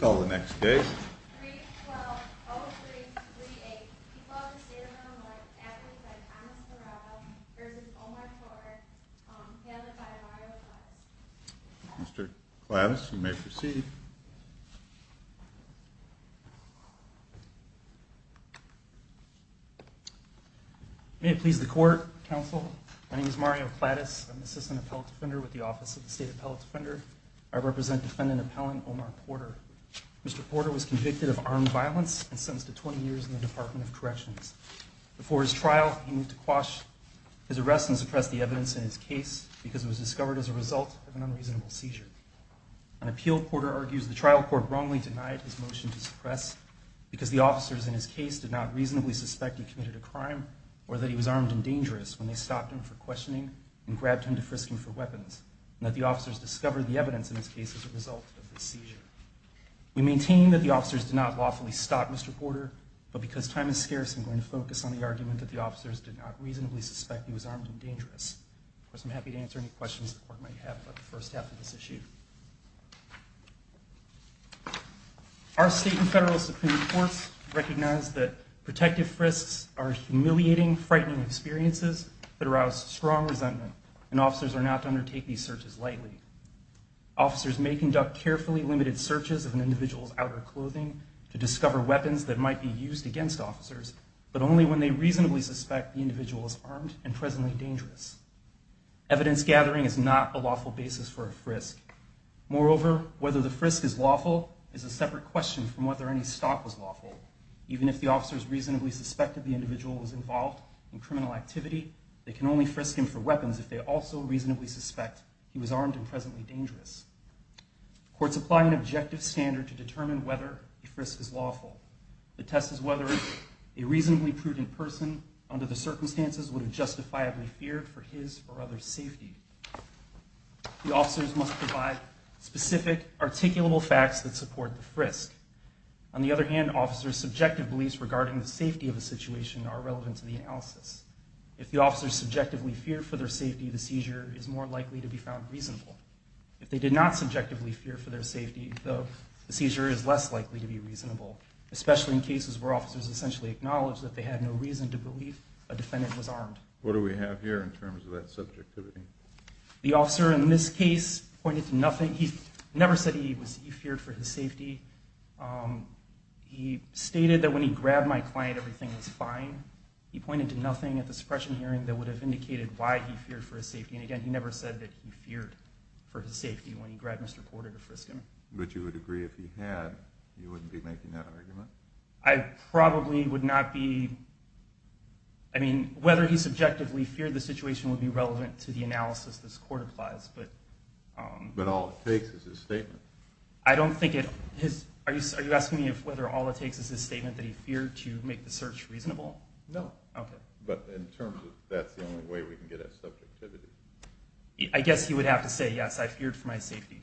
call the next day. Mr Class, you may proceed. May it please the court Council. My name is Mario Clatus. I'm assistant appellate defender with the Office of the State Appellate Defender. I Mr Porter was convicted of armed violence and sentenced to 20 years in the Department of Corrections. Before his trial, he moved to quash his arrest and suppress the evidence in his case because it was discovered as a result of an unreasonable seizure. An appeal. Porter argues the trial court wrongly denied his motion to suppress because the officers in his case did not reasonably suspect he committed a crime or that he was armed and dangerous when they stopped him for questioning and grabbed him to frisking for weapons and that the officers discovered the evidence in this case as a result of the seizure. We maintain that the officers did not lawfully stop Mr Porter, but because time is scarce, I'm going to focus on the argument that the officers did not reasonably suspect he was armed and dangerous. Of course, I'm happy to answer any questions the court might have about the first half of this issue. Our state and federal Supreme Court recognized that protective frisks are humiliating, frightening experiences that arouse strong resentment and officers may conduct carefully limited searches of an individual's outer clothing to discover weapons that might be used against officers, but only when they reasonably suspect the individual is armed and presently dangerous. Evidence gathering is not a lawful basis for a frisk. Moreover, whether the frisk is lawful is a separate question from whether any stop was lawful. Even if the officers reasonably suspected the individual was involved in criminal activity, they can only frisk him for weapons if they also reasonably suspect he was armed and presently dangerous. Courts apply an objective standard to determine whether a frisk is lawful. The test is whether a reasonably prudent person under the circumstances would have justifiably feared for his or others' safety. The officers must provide specific, articulable facts that support the frisk. On the other hand, officers' subjective beliefs regarding the safety of a situation are relevant to the analysis. If the officers subjectively feared for their safety, the seizure is more likely to be found reasonable. If they did not subjectively fear for their safety, though, the seizure is less likely to be reasonable, especially in cases where officers essentially acknowledge that they had no reason to believe a defendant was armed. What do we have here in terms of that subjectivity? The officer in this case pointed to nothing. He never said he feared for his safety. He stated that when he grabbed my client, everything was fine. He pointed to nothing at the time that would have indicated why he feared for his safety. And again, he never said that he feared for his safety when he grabbed Mr. Porter to frisk him. But you would agree if he had, you wouldn't be making that argument? I probably would not be. I mean, whether he subjectively feared the situation would be relevant to the analysis this court applies. But all it takes is his statement. I don't think it is. Are you asking me if whether all it takes is his statement that he feared to make the search reasonable? No. Okay. But in terms of that's the only way we can get at subjectivity. I guess he would have to say, yes, I feared for my safety.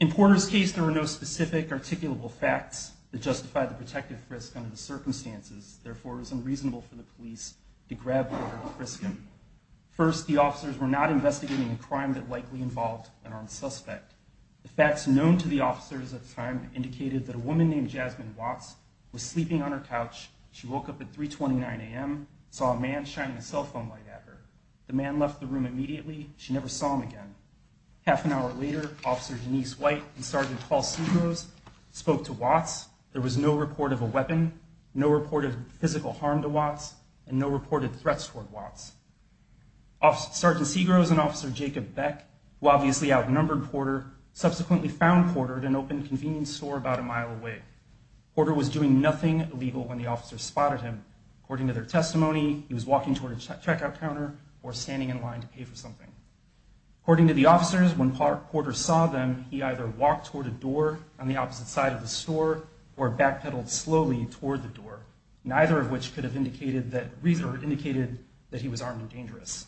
In Porter's case, there were no specific articulable facts that justified the protective frisk under the circumstances. Therefore, it was unreasonable for the police to grab Porter and frisk him. First, the officers were not investigating a crime that likely involved an armed suspect. The facts known to the officers at the time indicated that a woman named Jasmine Watts was sleeping on her couch. She woke up at 329 a.m., saw a man shining a cell phone light at her. The man left the room immediately. She never saw him again. Half an hour later, Officer Denise White and Sergeant Paul Segros spoke to Watts. There was no report of a weapon, no reported physical harm to Watts, and no reported threats toward Watts. Sergeant Segros and Officer Jacob Beck, who obviously outnumbered Porter, subsequently found Porter at an open convenience store about a mile away. Porter was doing nothing illegal when the officers spotted him. According to their testimony, he was walking toward a checkout counter or standing in line to pay for something. According to the officers, when Porter saw them, he either walked toward a door on the opposite side of the store or backpedaled slowly toward the door, neither of which could have indicated that he was armed or dangerous.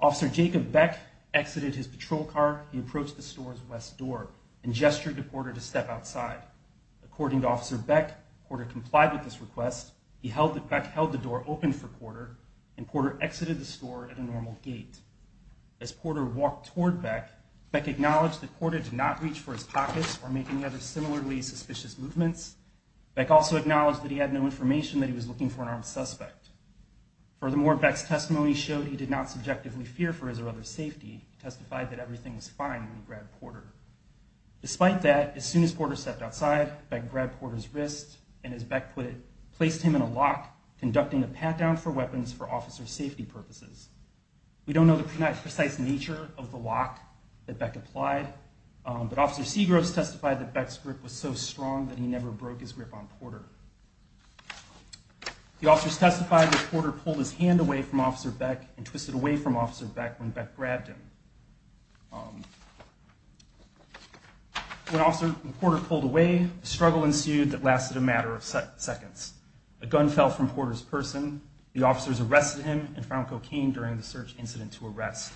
Officer Jacob Beck exited his patrol car. He approached the store's west door and gestured to Porter to step outside. According to Officer Beck, Porter complied with this request. He held that Beck held the door open for Porter, and Porter exited the store at a normal gate. As Porter walked toward Beck, Beck acknowledged that Porter did not reach for his pockets or make any other similarly suspicious movements. Beck also acknowledged that he had no information that he was looking for an armed suspect. Furthermore, Beck's testimony showed he did not subjectively fear for his or other's safety. He testified that everything was fine when he grabbed Porter. Despite that, as soon as Porter stepped outside, Beck grabbed Porter's wrist and, as Beck put it, placed him in a lock, conducting a pat-down for weapons for officer safety purposes. We don't know the precise nature of the lock that Beck applied, but Officer Segros testified that Beck's grip on Porter was so strong that he never broke his grip on Porter. The officers testified that Porter pulled his hand away from Officer Beck and twisted away from Officer Beck when Beck grabbed him. When Officer Porter pulled away, a struggle ensued that lasted a matter of seconds. A gun fell from Porter's person. The officers arrested him and found cocaine during the search incident to arrest.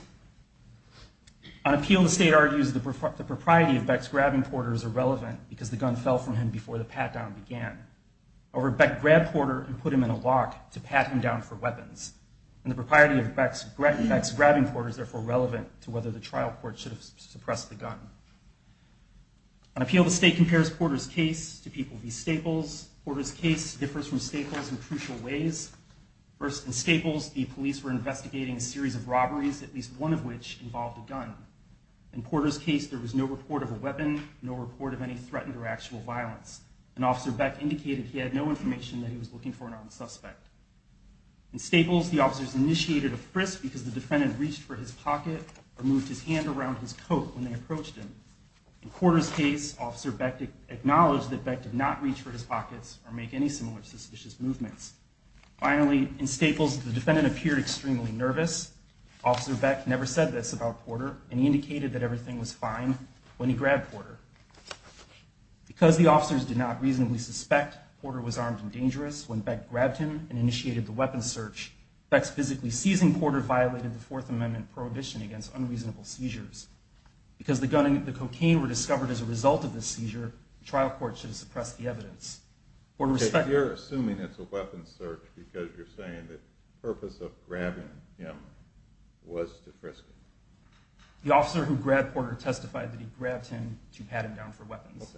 On appeal, the state argues the propriety of Beck's grabbing Porter is irrelevant because the gun fell from him before the pat-down began. However, Beck grabbed Porter and put him in a lock to pat him down for weapons. And the propriety of Beck's grabbing Porter is therefore relevant to whether the trial court should have suppressed the gun. On appeal, the state compares Porter's case to people v. Staples. Porter's case differs from Staples in crucial ways. First, in Staples, the police were investigating a series of robberies, at least one of which involved a gun. In Porter's case, there was no report of a weapon, no report of any threatened or sexual violence. And Officer Beck indicated he had no information that he was looking for an armed suspect. In Staples, the officers initiated a frisk because the defendant reached for his pocket or moved his hand around his coat when they approached him. In Porter's case, Officer Beck acknowledged that Beck did not reach for his pockets or make any similar suspicious movements. Finally, in Staples, the defendant appeared extremely nervous. Officer Beck never said this about Porter, and he indicated that everything was fine when he grabbed Porter. Because the officers did not reasonably suspect Porter was armed and dangerous, when Beck grabbed him and initiated the weapon search, Beck's physically seizing Porter violated the Fourth Amendment prohibition against unreasonable seizures. Because the gun and the cocaine were discovered as a result of this seizure, the trial court should have suppressed the evidence. You're assuming it's a weapon search because you're saying the purpose of the officer who grabbed Porter testified that he grabbed him to pat him down for weapons.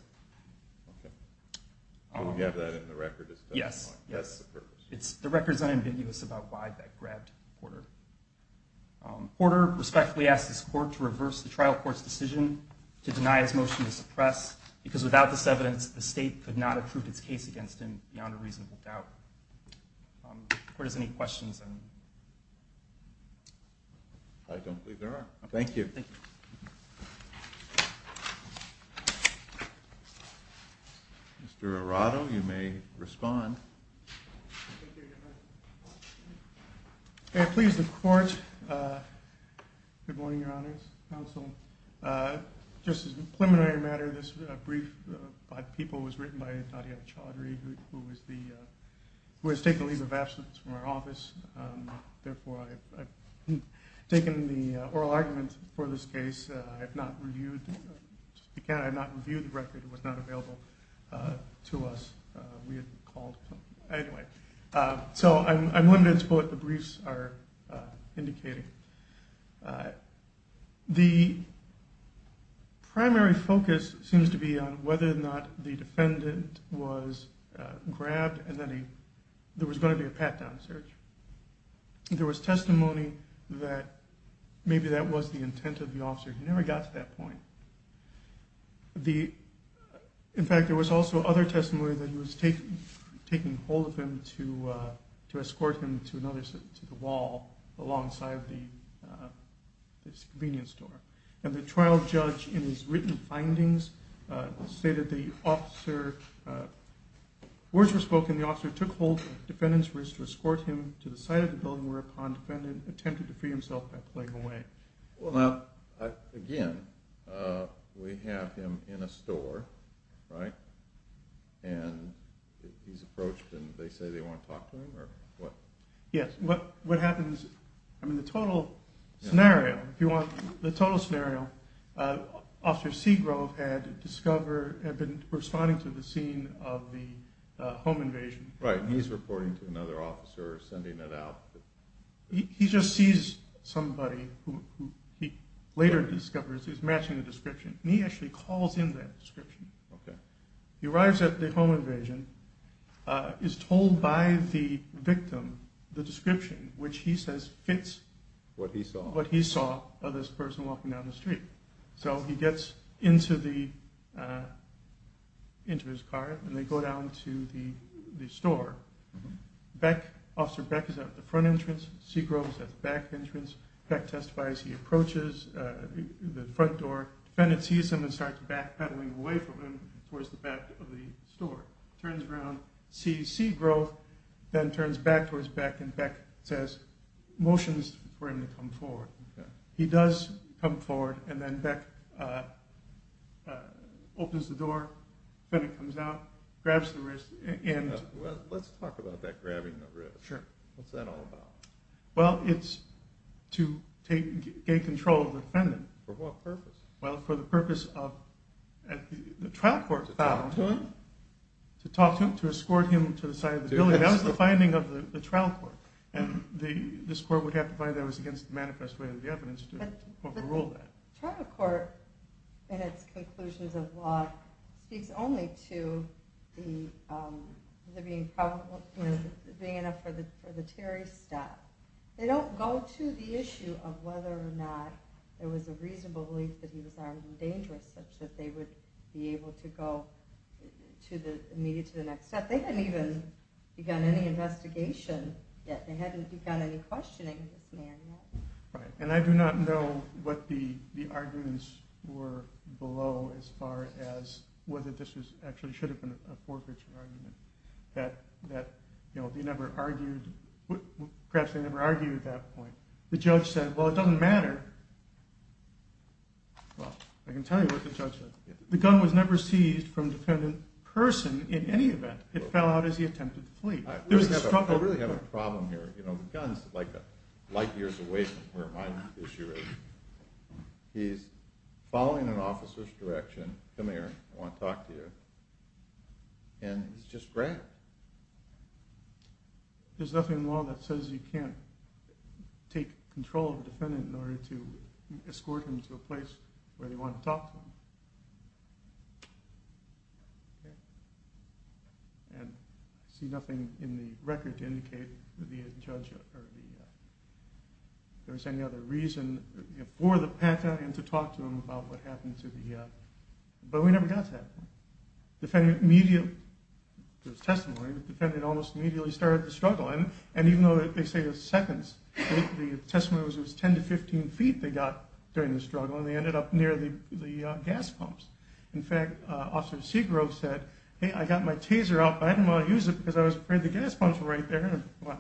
Yes, yes. It's the record's unambiguous about why Beck grabbed Porter. Porter respectfully asked his court to reverse the trial court's decision to deny his motion to suppress because without this evidence the state could not approve its case against him beyond a reasonable doubt. Court, is there any questions? I don't believe there are. Thank you. Mr. Arado, you may respond. Please, the court. Good morning, Your Honors, counsel. Just as a preliminary matter, this brief by the people was written by a person who has taken leave of absence from our office. Therefore, I've taken the oral argument for this case. I have not reviewed the record. It was not available to us. We had called. Anyway, so I'm limited to what the briefs are indicating. The primary focus seems to be on whether or not the defendant was grabbed and that there was going to be a pat-down search. There was testimony that maybe that was the intent of the officer. He never got to that point. In fact, there was also other testimony that he was taking hold of him to escort him to another, to the wall alongside the convenience store. And the trial judge in his written findings stated the officer, words were spoken, the officer took hold of the defendant's wrist to escort him to the side of the building whereupon the defendant attempted to free himself by playing away. Well, now, again, we have him in a store, right? And he's approached and they say they want to talk to him? Yes. What happens, I mean, the total scenario, if you want, the total scenario, Officer Seagrove had discovered, had been responding to the scene of the home invasion. Right, and he's reporting to another officer, sending it out? He just sees somebody who he later discovers is matching the description, and he actually calls in that description. He arrives at the home invasion, is told by the victim the description, which he says fits what he saw of this person walking down the street. So he gets into his car and they go down to the store. Officer Beck is at the front entrance, Seagrove is at the back entrance, Beck testifies, he approaches the front door, defendant sees him and starts backpedaling away from him towards the back of the store. Turns around, sees Seagrove, then turns back towards Beck, and Beck says, motions for him to come forward. He does come forward, and then Beck opens the door, defendant comes out, grabs the wrist, and Well, let's talk about that grabbing the wrist. What's that all about? Well, it's to gain control of the defendant. For what purpose? Well, for the purpose of, the trial court found, to talk to him, to escort him to the side of the building. That was the finding of the trial court. And this court would have to find that it was against the manifest way of the evidence to overrule that. The trial court, in its conclusions of law, speaks only to the being enough for the Terry step. They don't go to the issue of whether or not it was a reasonable belief that he was armed and dangerous, such that they would be able to go immediately to the next step. They haven't even begun any investigation yet. They haven't begun any questioning of this man yet. And I do not know what the arguments were below as far as whether this actually should have been a forfeiture argument. Perhaps they never argued at that point. The judge said, well, it doesn't matter. Well, I can tell you what the judge said. The gun was never seized from the defendant person in any event. It fell out as he attempted to flee. I really have a problem here. The gun is light years away from where my issue is. He's following an officer's direction, come here, I want to talk to you, and he's just grabbed. There's nothing in the law that says you can't take control of a defendant in order to escort him to a place where they want to talk to him. I see nothing in the record to indicate that there was any other reason for the Pantheon to talk to him about what happened. But we never got to that point. The defendant almost immediately started to struggle. And even though they say it was seconds, the testimony was 10 to 15 feet they got during the struggle, and they ended up near the gas pumps. In fact, Officer Seguro said, hey, I got my taser out, but I didn't want to use it because I was afraid the gas pumps were right there. What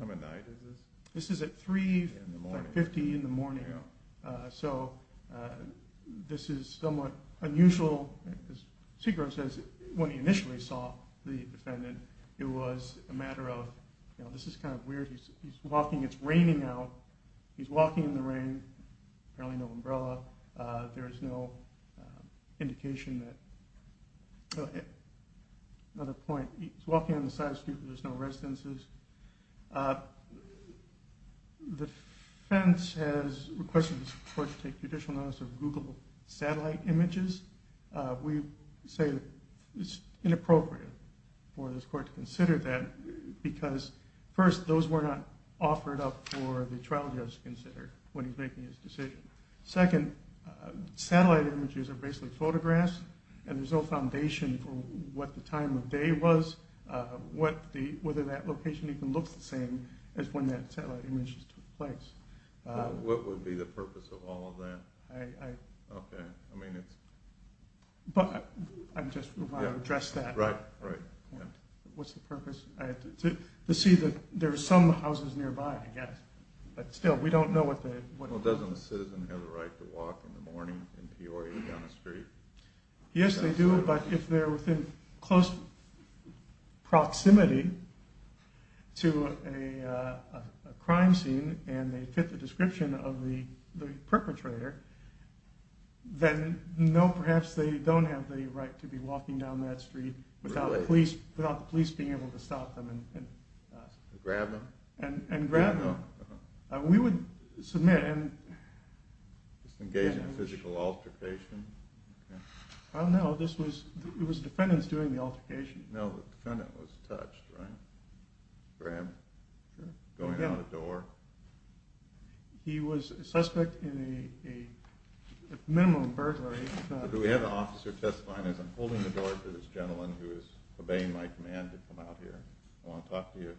time of night is this? This is at 3.50 in the morning, so this is somewhat unusual. As Seguro says, when he initially saw the defendant, it was a matter of, this is kind of weird, he's walking, it's raining out, he's walking in the rain, apparently no umbrella, there's no indication that... Another point, he's walking on the side of the street but there's no residences. The defense has requested the court to take judicial notice of Google satellite images. We say it's inappropriate for this court to consider that because, first, those were not offered up for the trial judge to consider when he's making his decision. Second, satellite images are basically photographs, and there's no foundation for what the time of day was, whether that location even looked the same as when that satellite image took place. What would be the purpose of all of that? I just want to address that. What's the purpose? To see that there are some houses nearby, I guess. Still, we don't know what the... Doesn't a citizen have the right to walk in the morning in Peoria down the street? Yes they do, but if they're within close proximity to a crime scene and they fit the description of the perpetrator, then no, perhaps they don't have the right to be walking down that street without the police being able to stop them. Grab them? And grab them. We would submit and... Engage in a physical altercation? No, it was defendants doing the altercation. No, the defendant was touched, right? Grabbed? Sure. Going out the door? He was a suspect in a minimum burglary. Do we have an officer testifying? As I'm holding the door to this gentleman who is obeying my command to come out here, I want to talk to you,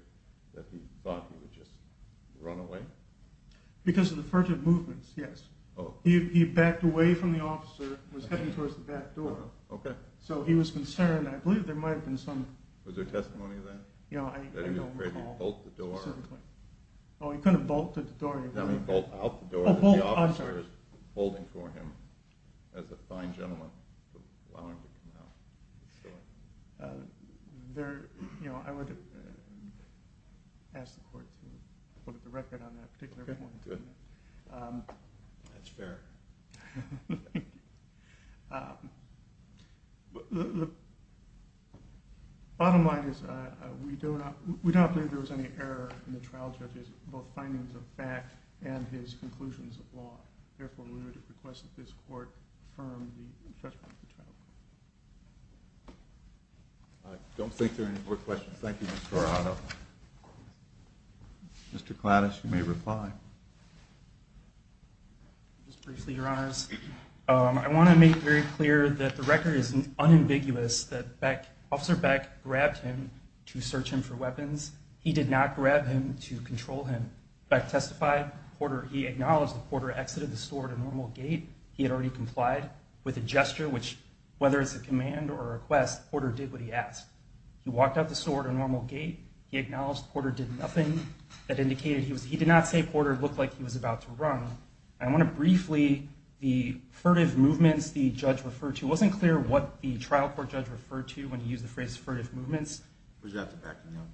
that he thought he would just run away? Because of the furtive movements, yes. He backed away from the officer, was heading towards the back door. Okay. So he was concerned, I believe there might have been some... Was there testimony of that? Yeah, I don't recall. That he bolted the door? He bolted out the door that the officer was holding for him. As a fine gentleman, allowing him to come out. I would ask the court to put up the record on that particular point. That's fair. Thank you. Bottom line is, we don't believe there was any error in the trial, judges. Both findings of fact and his conclusions of law. Therefore, we would request that this court confirm the infestation of the child. I don't think there are any more questions. Thank you, Mr. Arrano. Mr. Klanisch, you may reply. Just briefly, your honors. I want to make very clear that the record is unambiguous. Officer Beck grabbed him to search him for weapons. He did not grab him to control him. Beck testified. He acknowledged that Porter exited the store at a normal gate. He had already complied with a gesture, which, whether it's a command or a request, Porter did what he asked. He walked out the store at a normal gate. He acknowledged Porter did nothing that indicated he was... He did not say Porter looked like he was about to run. I want to briefly... The furtive movements the judge referred to, it wasn't clear what the trial court judge referred to when he used the phrase furtive movements. Was that the backing up?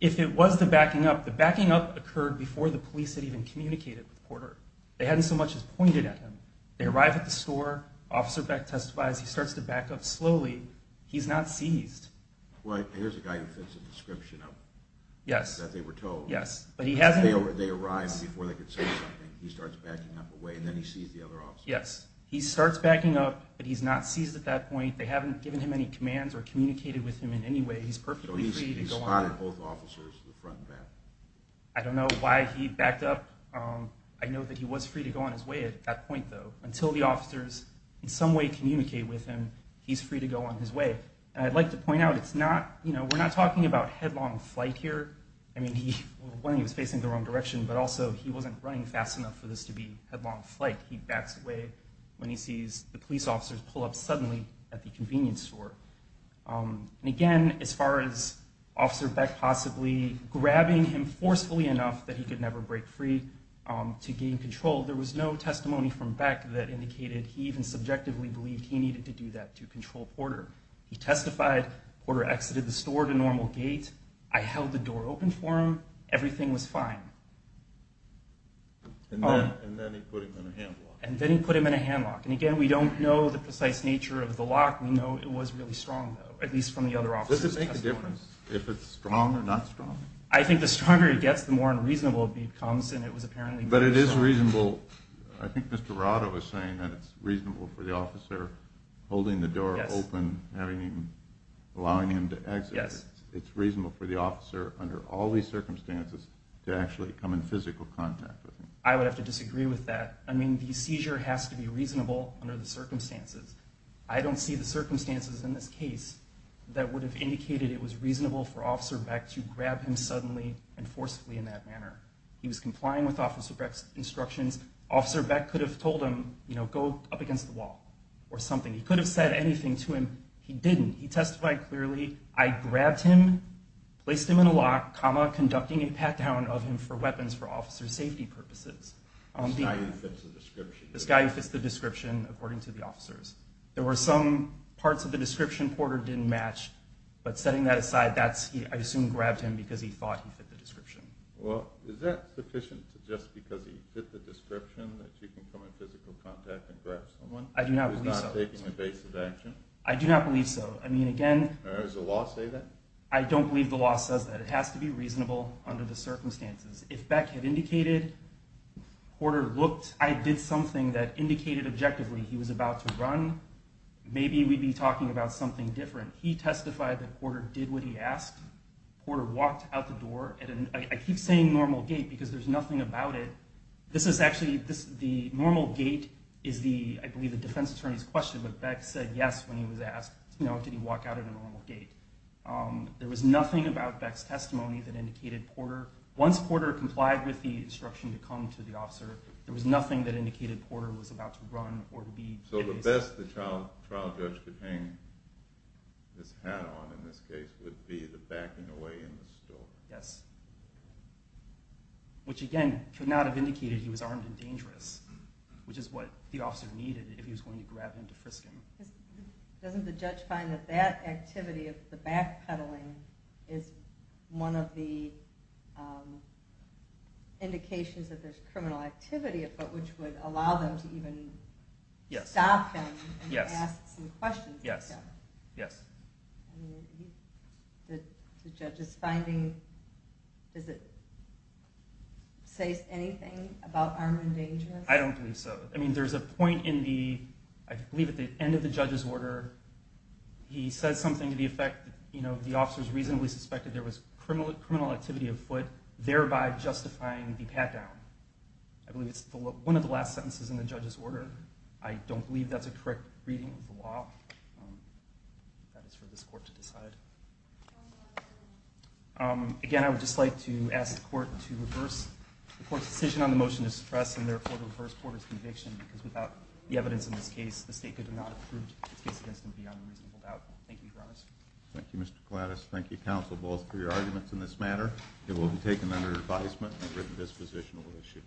If it was the backing up, the backing up occurred before the police had even communicated with Porter. They hadn't so much as pointed at him. They arrive at the store. Officer Beck testifies. He starts to back up slowly. He's not seized. Well, here's a guy who fits a description of... Yes. ...that they were told. Yes. But he hasn't... They arrive before they could say something. He starts backing up away, and then he sees the other officer. Yes. He starts backing up, but he's not seized at that point. They haven't given him any commands or communicated with him in any way. He's perfectly free to go on his way. So he spotted both officers, the front and back. I don't know why he backed up. I know that he was free to go on his way at that point, though. Until the officers, in some way, communicate with him, he's free to go on his way. And I'd like to point out, we're not talking about headlong flight here. I mean, when he was facing the wrong direction, but also, he wasn't running fast enough for this to be headlong flight. He backs away when he sees the police officers pull up suddenly at the convenience store. And again, as far as Officer Beck possibly grabbing him forcefully enough that he could never break free to gain control, there was no testimony from Beck that indicated he even subjectively believed he needed to do that to control Porter. He testified, Porter exited the store to normal gate, I held the door open for him, everything was fine. And then he put him in a handlock. And then he put him in a handlock. And again, we don't know the precise nature of the lock. We know it was really strong, though. At least from the other officers' testimony. Does it make a difference if it's strong or not strong? I think the stronger it gets, the more unreasonable it becomes. But it is reasonable. I think Mr. Rado is saying that it's reasonable for the officer holding the door open, allowing him to exit. It's reasonable for the officer, under all these circumstances, to actually come in physical contact with him. I would have to disagree with that. The seizure has to be reasonable under the circumstances. I don't see the circumstances in this case that would have indicated it was reasonable for Officer Beck to grab him suddenly and forcefully in that manner. He was complying with Officer Beck's instructions. Officer Beck could have told him, you know, go up against the wall or something. He could have said anything to him. He didn't. He testified clearly, I grabbed him, placed him in a lock, comma, conducting a pat-down of him for weapons for officer safety purposes. This guy who fits the description. This guy who fits the description, according to the officers. There were some parts of the description Porter didn't match. But setting that aside, I assume grabbed him because he thought he fit the description. Is that sufficient just because he fit the description that you can come in physical contact and grab someone? I do not believe so. I do not believe so. Does the law say that? I don't believe the law says that. It has to be reasonable under the circumstances. If Beck had indicated, I did something that indicated objectively he was about to run, maybe we'd be talking about something different. He testified that Porter did what he asked. Porter walked out the door. I keep saying normal gait because there's nothing about it. The normal gait is I believe the defense attorney's question but Beck said yes when he was asked did he walk out at a normal gait. There was nothing about Beck's testimony that indicated Porter. Once Porter complied with the instruction to come to the officer, there was nothing that indicated Porter was about to run. So the best the trial judge could hang his hat on in this case would be the backing away in the store. Yes. Which again could not have indicated he was armed and dangerous. Which is what the officer needed if he was going to grab him to frisk him. Doesn't the judge find that that activity of the backpedaling is one of the indications that there's criminal activity which would allow them to even stop him and ask some questions. Yes. The judge is finding does it say anything about armed and dangerous? I don't believe so. I believe at the end of the judge's order he said something to the effect that the officer reasonably suspected there was criminal activity of foot thereby justifying the pat-down. I believe it's one of the last sentences in the judge's order. I don't believe that's a correct reading of the law. That is for this court to decide. Again I would just like to ask the court to reverse the court's decision on the motion to suppress and therefore to reverse Porter's conviction because without the evidence in this case the state could not have proved his case against him beyond a reasonable doubt. Thank you, Your Honor. Thank you, Mr. Gladys. Thank you, counsel, both for your arguments in this matter. It will be taken under advisement under the disposition that we'll issue.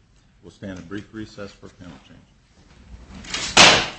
We'll stand at brief recess for a panel change.